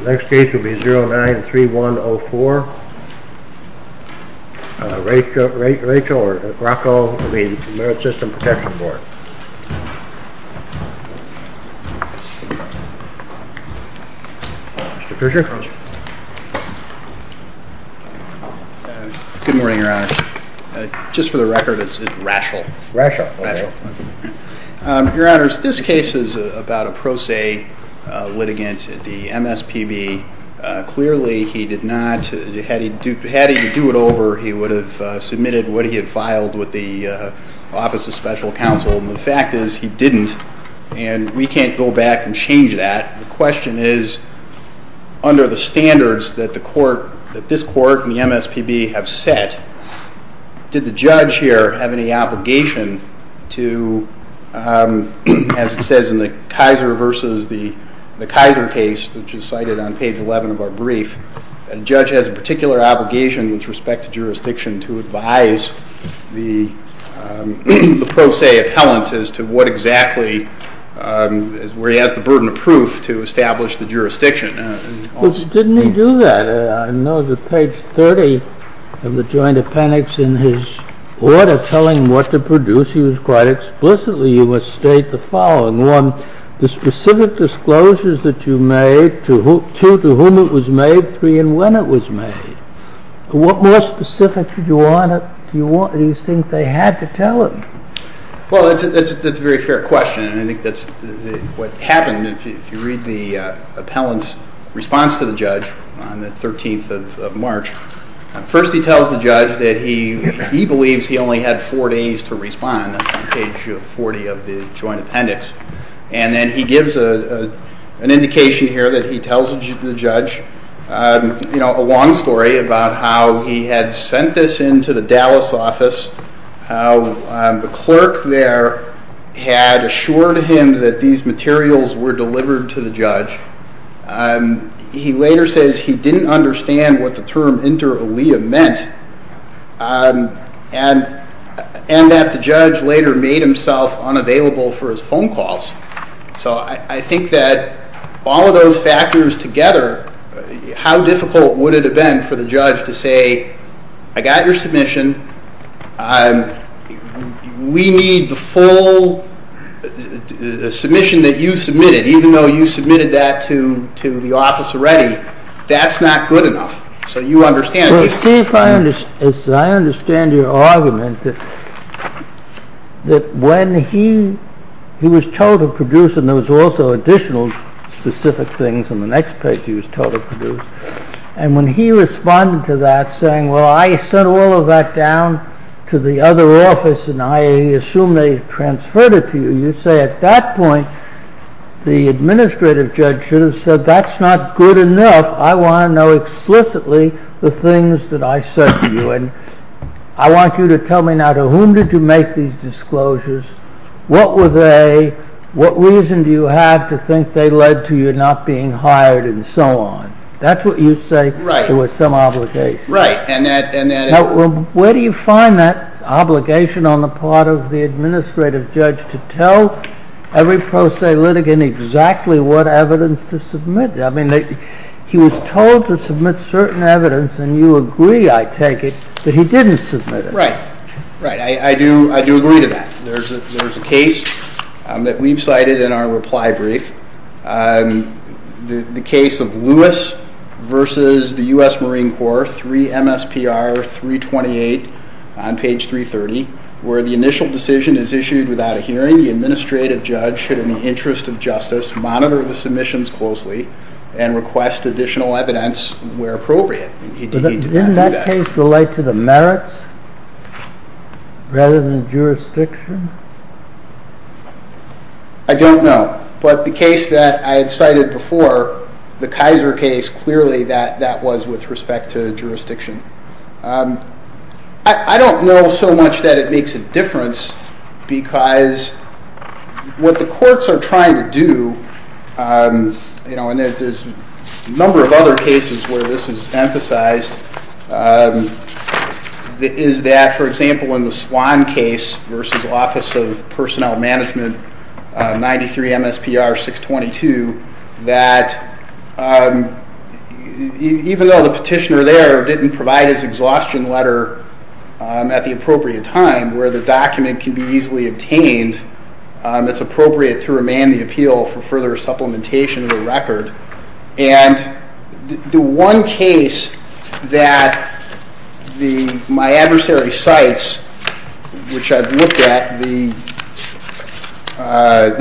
The next case will be 09-3104. Rachel or Graco of the Merit System Protection Board. Mr. Kershaw. Good morning, Your Honor. Just for the record, it's Rachel. Your Honor, this case is about a pro se litigant at the MSPB. Clearly he did not, had he had to do it over, he would have submitted what he had filed with the Office of Special Counsel, and the fact is he didn't, and we can't go back and change that. The question is, under the standards that this court and the MSPB have set, did the judge here have any obligation to, as it says in the Kaiser v. the Kaiser case, which is cited on page 11 of our brief, a judge has a particular obligation with respect to jurisdiction to advise the pro se appellant as to what exactly, where he has the burden of proof to establish the jurisdiction. Didn't he do that? I know that page 30 of the joint appendix in his order telling what to produce, he was quite explicitly, you must state the following. One, the specific disclosures that you made, two, to whom it was made, three, and when it was made. What more specifics do you think they had to tell him? Well, that's a very fair question, and I think that's what happened. If you read the appellant's response to the judge on the 13th of March, first he tells the judge that he believes he only had four days to respond, that's on page 40 of the joint appendix, and then he gives an indication here that he tells the judge a long story about how he had sent this into the Dallas office, how the clerk there had assured him that these materials were delivered to the judge. He later says he didn't understand what the term inter alia meant, and that the judge later made himself unavailable for his phone calls. So I think that all of those factors together, how difficult would it have been for the judge to say, hey, I got your submission, we need the full submission that you submitted, even though you submitted that to the office already, that's not good enough. So you understand. Well, Steve, I understand your argument that when he was told to produce, and there was also additional specific things on the next page he was told to produce, and when he responded to that saying, well I sent all of that down to the other office and I assume they transferred it to you, you say at that point the administrative judge should have said that's not good enough, I want to know explicitly the things that I said to you, and I want you to tell me now to whom did you make these disclosures, what were they, what reason do you have to think they led to you not being hired, and so on. That's what you say there was some obligation. Right. Where do you find that obligation on the part of the administrative judge to tell every pro se litigant exactly what evidence to submit? I mean, he was told to submit certain evidence, and you agree, I take it, that he didn't submit it. Right. I do agree to that. There's a case that we've cited in our reply brief, the case of Lewis versus the U.S. Marine Corps, 3 MSPR 328 on page 330, where the initial decision is issued without a hearing, the administrative judge should, in the interest of justice, monitor the submissions closely and request additional evidence where appropriate. Didn't that case relate to the merits rather than jurisdiction? I don't know, but the case that I had cited before, the Kaiser case, clearly that was with respect to jurisdiction. I don't know so much that it makes a difference because what the courts are trying to do, and there's a number of other cases where this is emphasized, is that, for example, in the Swan case versus Office of Personnel Management, 93 MSPR 622, that even though the petitioner there didn't provide a hearing, the judge did not provide a hearing. He did provide his exhaustion letter at the appropriate time where the document can be easily obtained. It's appropriate to remand the appeal for further supplementation of the record. And the one case that my adversary cites, which I've looked at, the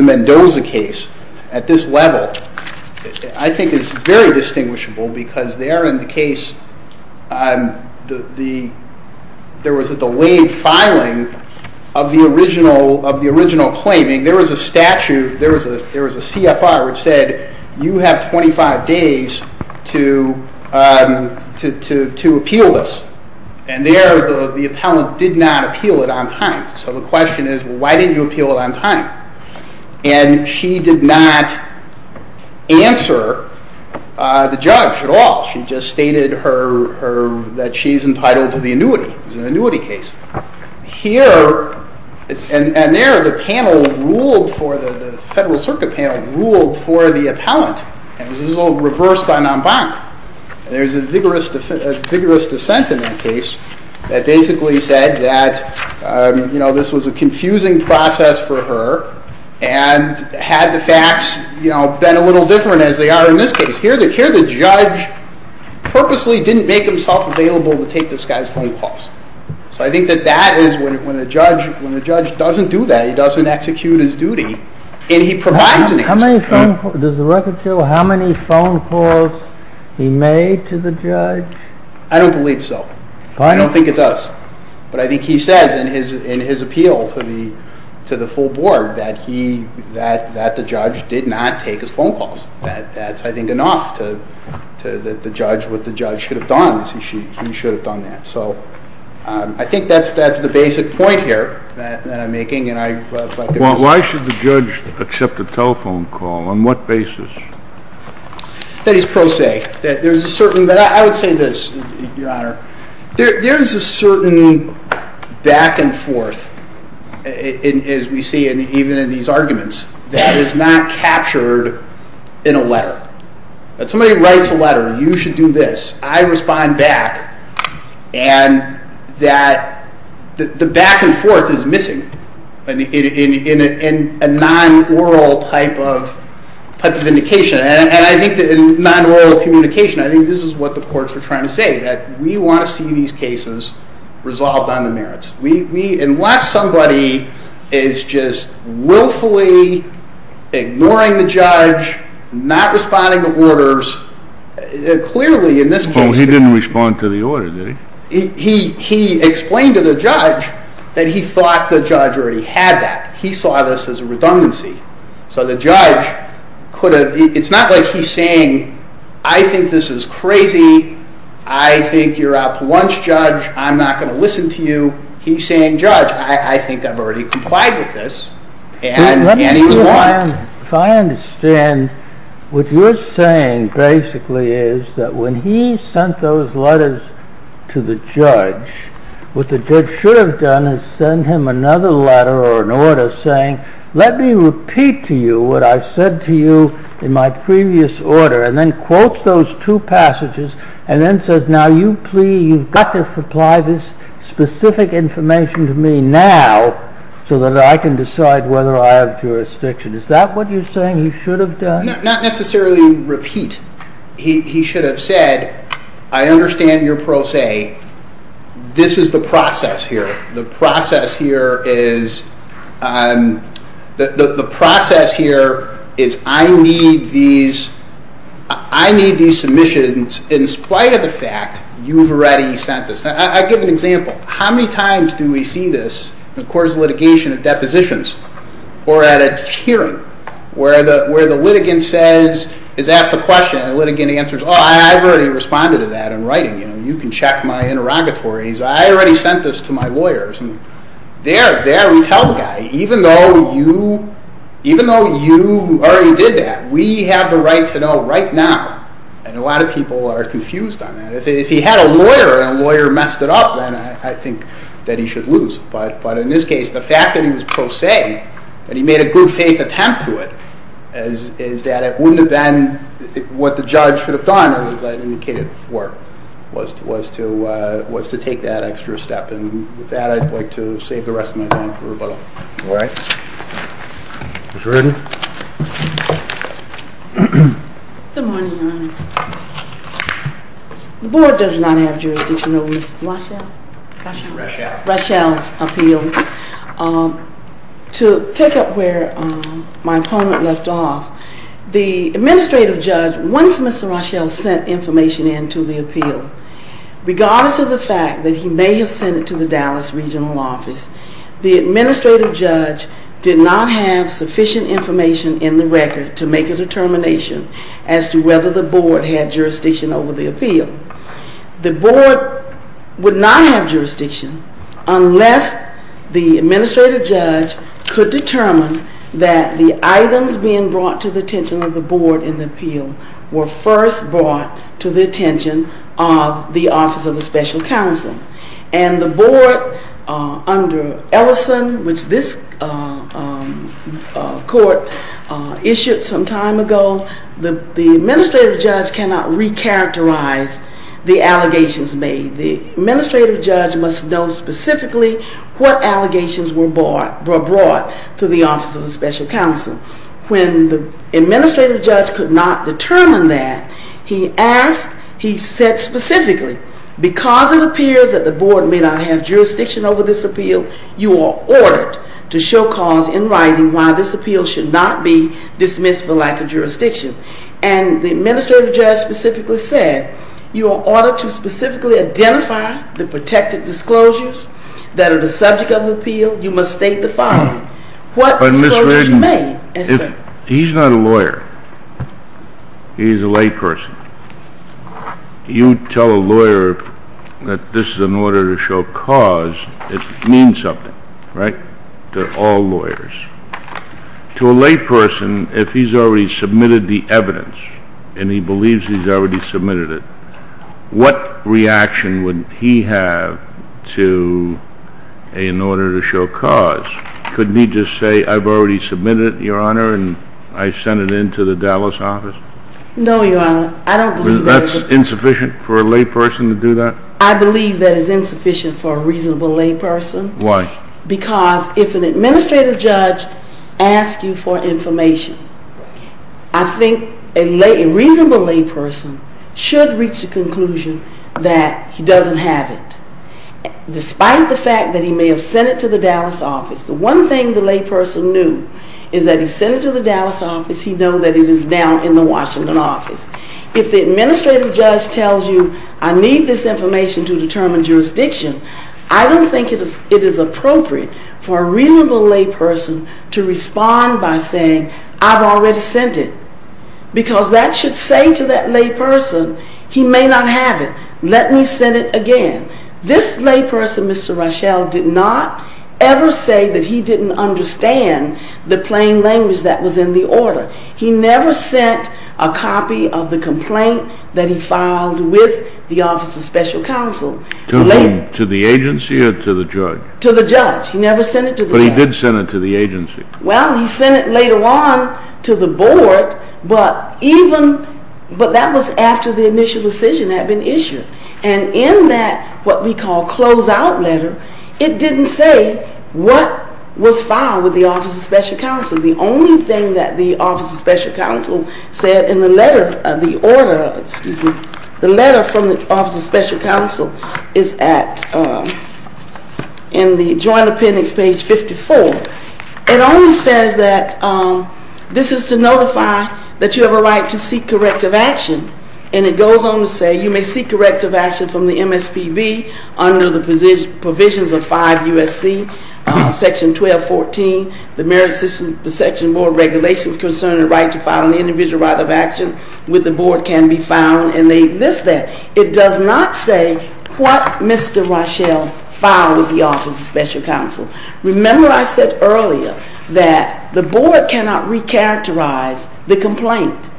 Mendoza case, at this level, I think is very distinguishable because there in the case there was a delayed filing of the original claiming. There was a statute, there was a CFR which said you have 25 days to appeal this. And there the appellant did not appeal it on time. So the question is why didn't you appeal it on time? And she did not answer the judge at all. She just stated that she's entitled to the annuity. It was an annuity case. Here, and there the panel ruled for, the Federal Circuit panel ruled for the appellant. It was a little reversed by Nambak. There's a vigorous dissent in that case that basically said that this was a confusing process for her and had the facts been a little different as they are in this case. Here the judge purposely didn't make himself available to take this guy's phone calls. So I think that that is when the judge doesn't do that, he doesn't execute his duty, and he provides an answer. Does the record show how many phone calls he made to the judge? I don't believe so. I don't think it does. But I think he says in his appeal to the full board that the judge did not take his phone calls. That's, I think, enough that the judge, what the judge should have done is he should have done that. So I think that's the basic point here that I'm making. Well, why should the judge accept a telephone call? On what basis? That is pro se. I would say this, Your Honor. There is a certain back and forth, as we see even in these arguments, that is not captured in a letter. That somebody writes a letter, you should do this, I respond back, and that the back and forth is missing in a non-oral type of indication. And I think that in non-oral communication, I think this is what the courts are trying to say, that we want to see these cases resolved on the merits. Unless somebody is just willfully ignoring the judge, not responding to orders, clearly in this case... Well, he didn't respond to the order, did he? He explained to the judge that he thought the judge already had that. He saw this as a redundancy. So the judge could have, it's not like he's saying, I think this is crazy. I think you're out to lunch, judge. I'm not going to listen to you. He's saying, judge, I think I've already complied with this. And he was wrong. If I understand, what you're saying basically is that when he sent those letters to the judge, what the judge should have done is sent him another letter or an order saying, let me repeat to you what I said to you in my previous order, and then quotes those two passages and then says, now you've got to supply this specific information to me now so that I can decide whether I have jurisdiction. Is that what you're saying he should have done? Not necessarily repeat. He should have said, I understand your pro se. This is the process here. The process here is I need these submissions in spite of the fact you've already sent this. I'll give an example. How many times do we see this in the court's litigation of depositions or at a hearing where the litigant says, is asked a question and the litigant answers, oh, I've already responded to that in writing. You can check my interrogatories. I already sent this to my lawyers. There we tell the guy, even though you already did that, we have the right to know right now. And a lot of people are confused on that. If he had a lawyer and a lawyer messed it up, then I think that he should lose. But in this case, the fact that he was pro se, that he made a good faith attempt to it, is that it wouldn't have been what the judge should have done, as I indicated before, was to take that extra step. And with that, I'd like to save the rest of my time for rebuttal. All right. Ms. Ruden. Good morning, Your Honor. The board does not have jurisdiction over Ms. Rochelle's appeal. To take up where my opponent left off, the administrative judge, once Ms. Rochelle sent information in to the appeal, regardless of the fact that he may have sent it to the Dallas regional office, the administrative judge did not have sufficient information in the record to make a determination as to whether the board had jurisdiction over the appeal. The board would not have jurisdiction unless the administrative judge could determine that the items being brought to the attention of the board in the appeal were first brought to the attention of the Office of the Special Counsel. And the board, under Ellison, which this court issued some time ago, the administrative judge cannot recharacterize the allegations made. The administrative judge must know specifically what allegations were brought to the Office of the Special Counsel. When the administrative judge could not determine that, he asked, he said specifically, because it appears that the board may not have jurisdiction over this appeal, you are ordered to show cause in writing why this appeal should not be dismissed for lack of jurisdiction. And the administrative judge specifically said, you are ordered to specifically identify the protected disclosures that are the subject of the appeal. You must state the following. What disclosures were made? He's not a lawyer. He's a layperson. You tell a lawyer that this is an order to show cause, it means something, right? They're all lawyers. To a layperson, if he's already submitted the evidence, and he believes he's already submitted it, what reaction would he have to an order to show cause? Couldn't he just say, I've already submitted it, Your Honor, and I sent it in to the Dallas office? No, Your Honor. I don't believe that. That's insufficient for a layperson to do that? I believe that is insufficient for a reasonable layperson. Why? Because if an administrative judge asks you for information, I think a reasonable layperson should reach the conclusion that he doesn't have it. Despite the fact that he may have sent it to the Dallas office, the one thing the layperson knew is that he sent it to the Dallas office. He knows that it is now in the Washington office. If the administrative judge tells you, I need this information to determine jurisdiction, I don't think it is appropriate for a reasonable layperson to respond by saying, I've already sent it. Because that should say to that layperson, he may not have it. Let me send it again. This layperson, Mr. Rochelle, did not ever say that he didn't understand the plain language that was in the order. He never sent a copy of the complaint that he filed with the Office of Special Counsel. To the agency or to the judge? To the judge. He never sent it to the judge. But he did send it to the agency. Well, he sent it later on to the board, but that was after the initial decision had been issued. And in that, what we call close-out letter, it didn't say what was filed with the Office of Special Counsel. The only thing that the Office of Special Counsel said in the letter, the order, excuse me, the letter from the Office of Special Counsel is at, in the joint appendix, page 54. It only says that this is to notify that you have a right to seek corrective action. And it goes on to say you may seek corrective action from the MSPB under the provisions of 5 U.S.C. section 1214, the Merit System Section Board Regulations concerning the right to file an individual right of action with the board can be found. And they list that. It does not say what Mr. Rochelle filed with the Office of Special Counsel. Remember I said earlier that the board cannot recharacterize the complaint.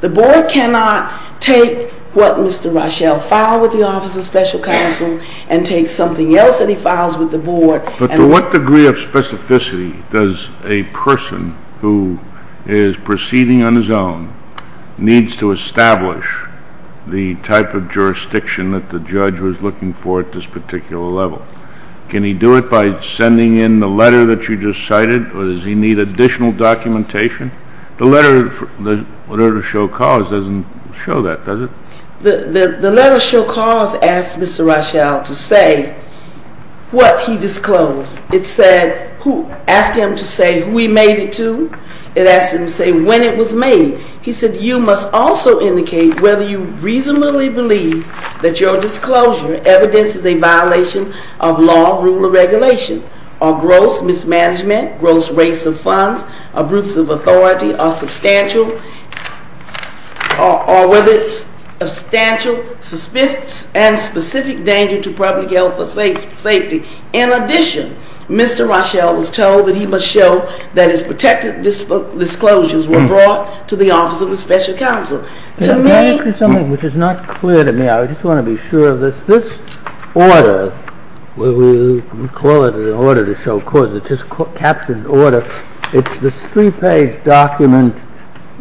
The board cannot take what Mr. Rochelle filed with the Office of Special Counsel and take something else that he files with the board. But to what degree of specificity does a person who is proceeding on his own needs to establish the type of jurisdiction that the judge was looking for at this particular level? Can he do it by sending in the letter that you just cited, or does he need additional documentation? The letter to show cause doesn't show that, does it? The letter to show cause asks Mr. Rochelle to say what he disclosed. It asked him to say who he made it to. It asked him to say when it was made. He said you must also indicate whether you reasonably believe that your disclosure evidence is a violation of law, rule, or regulation, or gross mismanagement, gross rates of funds, abrupts of authority, or whether it's a substantial and specific danger to public health or safety. In addition, Mr. Rochelle was told that he must show that his protected disclosures were brought to the Office of Special Counsel. Can I ask you something which is not clear to me? I just want to be sure of this. This order, we call it an order to show cause. It's just a captioned order. It's this three-page document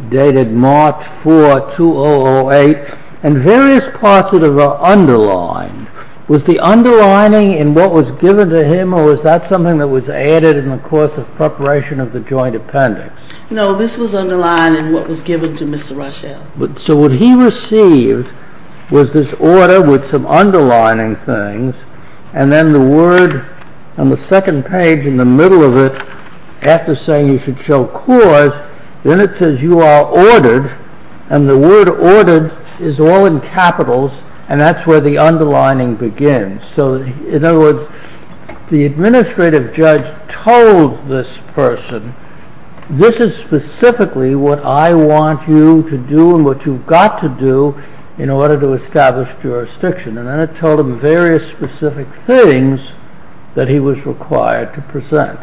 dated March 4, 2008, and various parts of it are underlined. Was the underlining in what was given to him, or was that something that was added in the course of preparation of the joint appendix? No, this was underlined in what was given to Mr. Rochelle. So what he received was this order with some underlining things, and then the word on the second page in the middle of it, after saying you should show cause, then it says you are ORDERED, and the word ORDERED is all in capitals, and that's where the underlining begins. So in other words, the administrative judge told this person, this is specifically what I want you to do and what you've got to do in order to establish jurisdiction, and then it told him various specific things that he was required to present.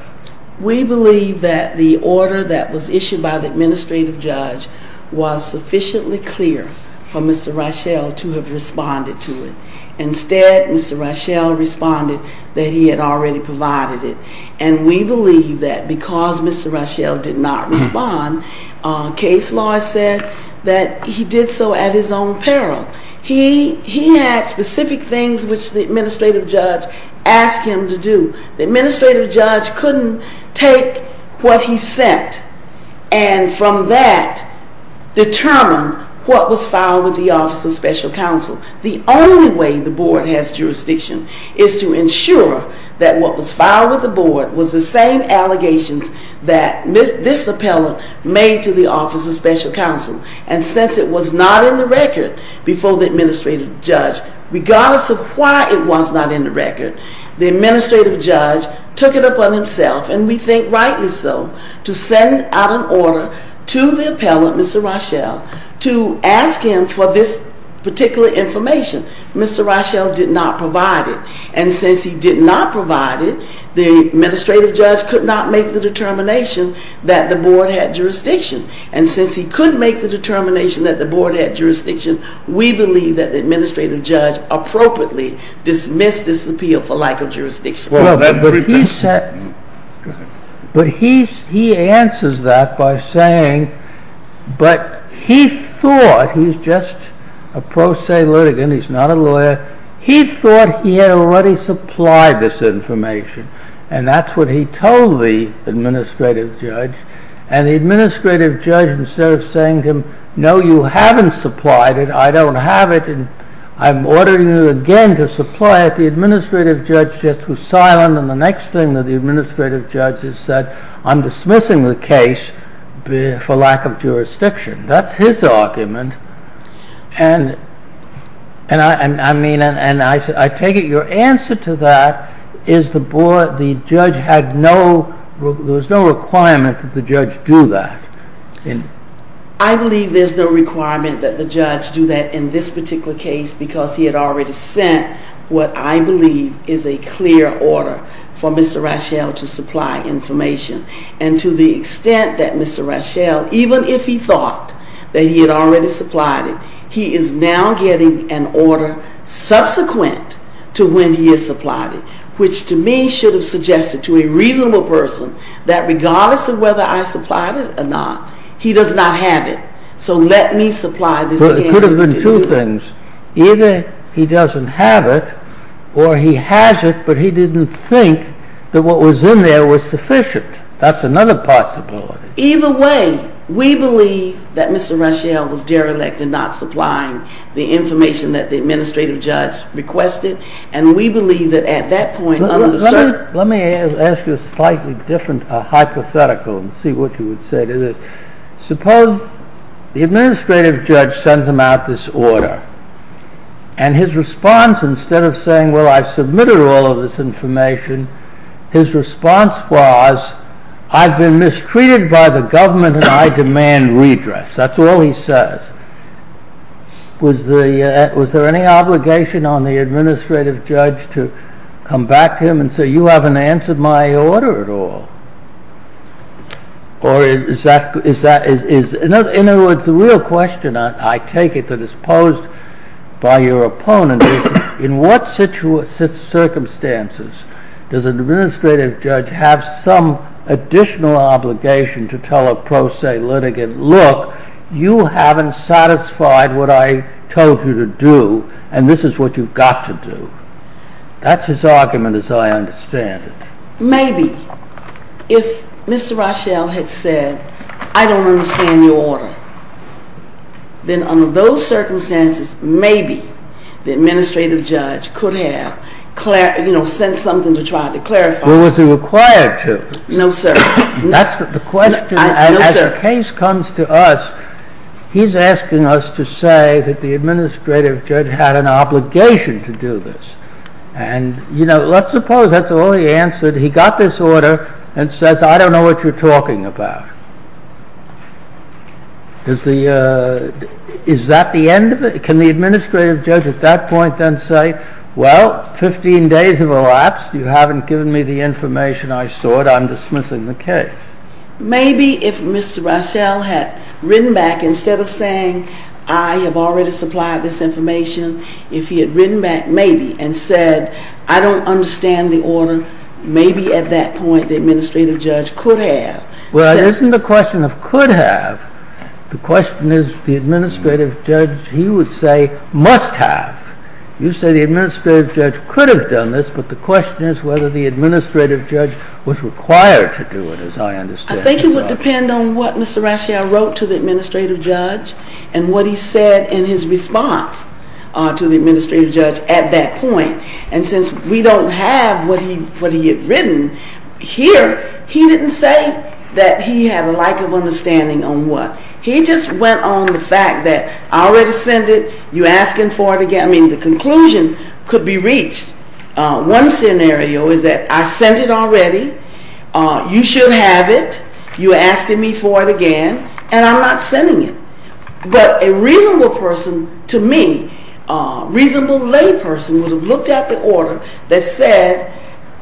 We believe that the order that was issued by the administrative judge was sufficiently clear for Mr. Rochelle to have responded to it. Instead, Mr. Rochelle responded that he had already provided it, and we believe that because Mr. Rochelle did not respond, case law said that he did so at his own peril. He had specific things which the administrative judge asked him to do. The administrative judge couldn't take what he sent and from that determine what was filed with the Office of Special Counsel. The only way the board has jurisdiction is to ensure that what was filed with the board was the same allegations that this appellant made to the Office of Special Counsel, and since it was not in the record before the administrative judge, regardless of why it was not in the record, the administrative judge took it upon himself, and we think rightly so, to send out an order to the appellant, Mr. Rochelle, to ask him for this particular information. Mr. Rochelle did not provide it, and since he did not provide it, the administrative judge could not make the determination that the board had jurisdiction, and since he couldn't make the determination that the board had jurisdiction, we believe that the administrative judge appropriately dismissed this appeal for lack of jurisdiction. But he answers that by saying, but he thought, he's just a pro se litigant, he's not a lawyer, he thought he had already supplied this information, and that's what he told the administrative judge, and the administrative judge, instead of saying to him, no you haven't supplied it, I don't have it, I'm ordering you again to supply it, the administrative judge just was silent, and the next thing that the administrative judge has said, I'm dismissing the case for lack of jurisdiction. That's his argument, and I take it your answer to that is the judge had no, there was no requirement that the judge do that. I believe there's no requirement that the judge do that in this particular case, because he had already sent what I believe is a clear order for Mr. Rochelle to supply information, and to the extent that Mr. Rochelle, even if he thought that he had already supplied it, he is now getting an order subsequent to when he has supplied it, which to me should have suggested to a reasonable person that regardless of whether I supplied it or not, he does not have it, so let me supply this again. But it could have been two things, either he doesn't have it, or he has it, but he didn't think that what was in there was sufficient, that's another possibility. Either way, we believe that Mr. Rochelle was derelict in not supplying the information that the administrative judge requested, and we believe that at that point... Let me ask you a slightly different hypothetical and see what you would say to this. Suppose the administrative judge sends him out this order, and his response instead of saying, well, I've submitted all of this information, his response was, I've been mistreated by the government and I demand redress, that's all he says. Was there any obligation on the administrative judge to come back to him and say, you haven't answered my order at all, or is that... In other words, the real question, I take it, that is posed by your opponent is, in what circumstances does an administrative judge have some additional obligation to tell a pro se litigant, look, you haven't satisfied what I told you to do, and this is what you've got to do. That's his argument as I understand it. Maybe. If Mr. Rochelle had said, I don't understand your order, then under those circumstances, maybe the administrative judge could have sent something to try to clarify... Well, was he required to? No, sir. That's the question, and as the case comes to us, he's asking us to say that the administrative judge had an obligation to do this. And, you know, let's suppose that's all he answered. He got this order and says, I don't know what you're talking about. Is that the end of it? Can the administrative judge at that point then say, well, 15 days have elapsed, you haven't given me the information I sought, I'm dismissing the case? Maybe if Mr. Rochelle had written back, instead of saying, I have already supplied this information, if he had written back maybe and said, I don't understand the order, maybe at that point the administrative judge could have sent... Well, it isn't the question of could have. The question is the administrative judge, he would say, must have. You say the administrative judge could have done this, but the question is whether the administrative judge was required to do it, as I understand. I think it would depend on what Mr. Rochelle wrote to the administrative judge and what he said in his response to the administrative judge at that point. And since we don't have what he had written here, he didn't say that he had a lack of understanding on what. He just went on the fact that I already sent it, you're asking for it again. I mean, the conclusion could be reached. One scenario is that I sent it already, you should have it, you're asking me for it again, and I'm not sending it. But a reasonable person, to me, a reasonable lay person would have looked at the order that said,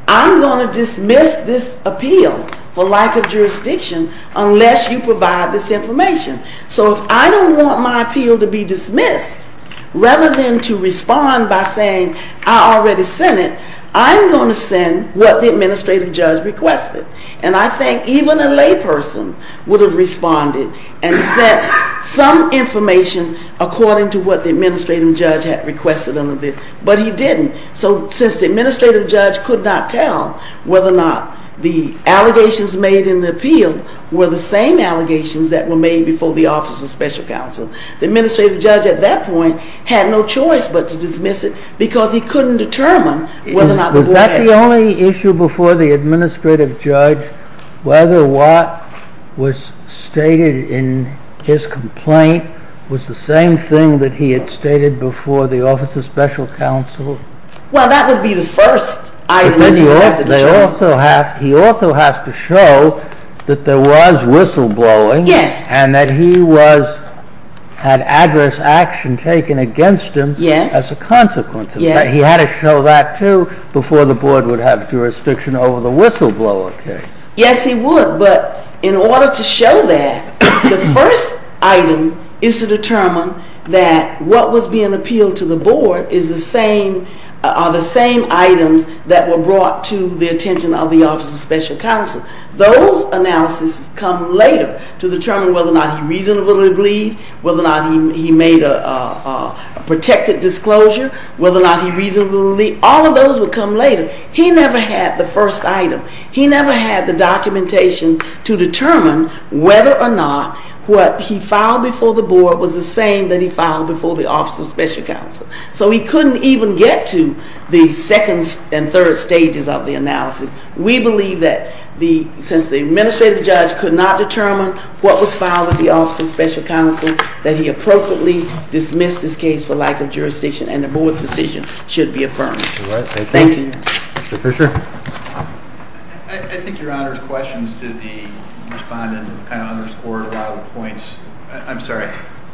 I'm going to dismiss this appeal for lack of jurisdiction unless you provide this information. So if I don't want my appeal to be dismissed, rather than to respond by saying I already sent it, I'm going to send what the administrative judge requested. And I think even a lay person would have responded and sent some information according to what the administrative judge had requested under this, but he didn't. So since the administrative judge could not tell whether or not the allegations made in the appeal were the same allegations that were made before the Office of Special Counsel, the administrative judge at that point had no choice but to dismiss it because he couldn't determine whether or not the boy had. Was that the only issue before the administrative judge, whether what was stated in his complaint was the same thing that he had stated before the Office of Special Counsel? Well, that would be the first item. He also has to show that there was whistleblowing and that he had adverse action taken against him as a consequence. He had to show that, too, before the board would have jurisdiction over the whistleblower case. Yes, he would. But in order to show that, the first item is to determine that what was being appealed to the board are the same items that were brought to the attention of the Office of Special Counsel. Those analyses come later to determine whether or not he reasonably believed, whether or not he made a protected disclosure, whether or not he reasonably believed. All of those would come later. He never had the first item. He never had the documentation to determine whether or not what he filed before the board was the same that he filed before the Office of Special Counsel. So he couldn't even get to the second and third stages of the analysis. We believe that since the administrative judge could not determine what was filed with the Office of Special Counsel, that he appropriately dismissed his case for lack of jurisdiction and the board's decision should be affirmed. Thank you. Mr. Fischer. I think Your Honor's questions to the respondent have kind of underscored a lot of the points. I'm sorry.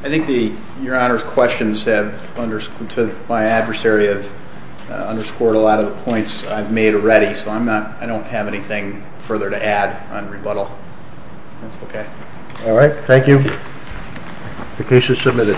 I think Your Honor's questions to my adversary have underscored a lot of the points I've made already, so I don't have anything further to add on rebuttal. That's okay. All right. Thank you. The case is submitted.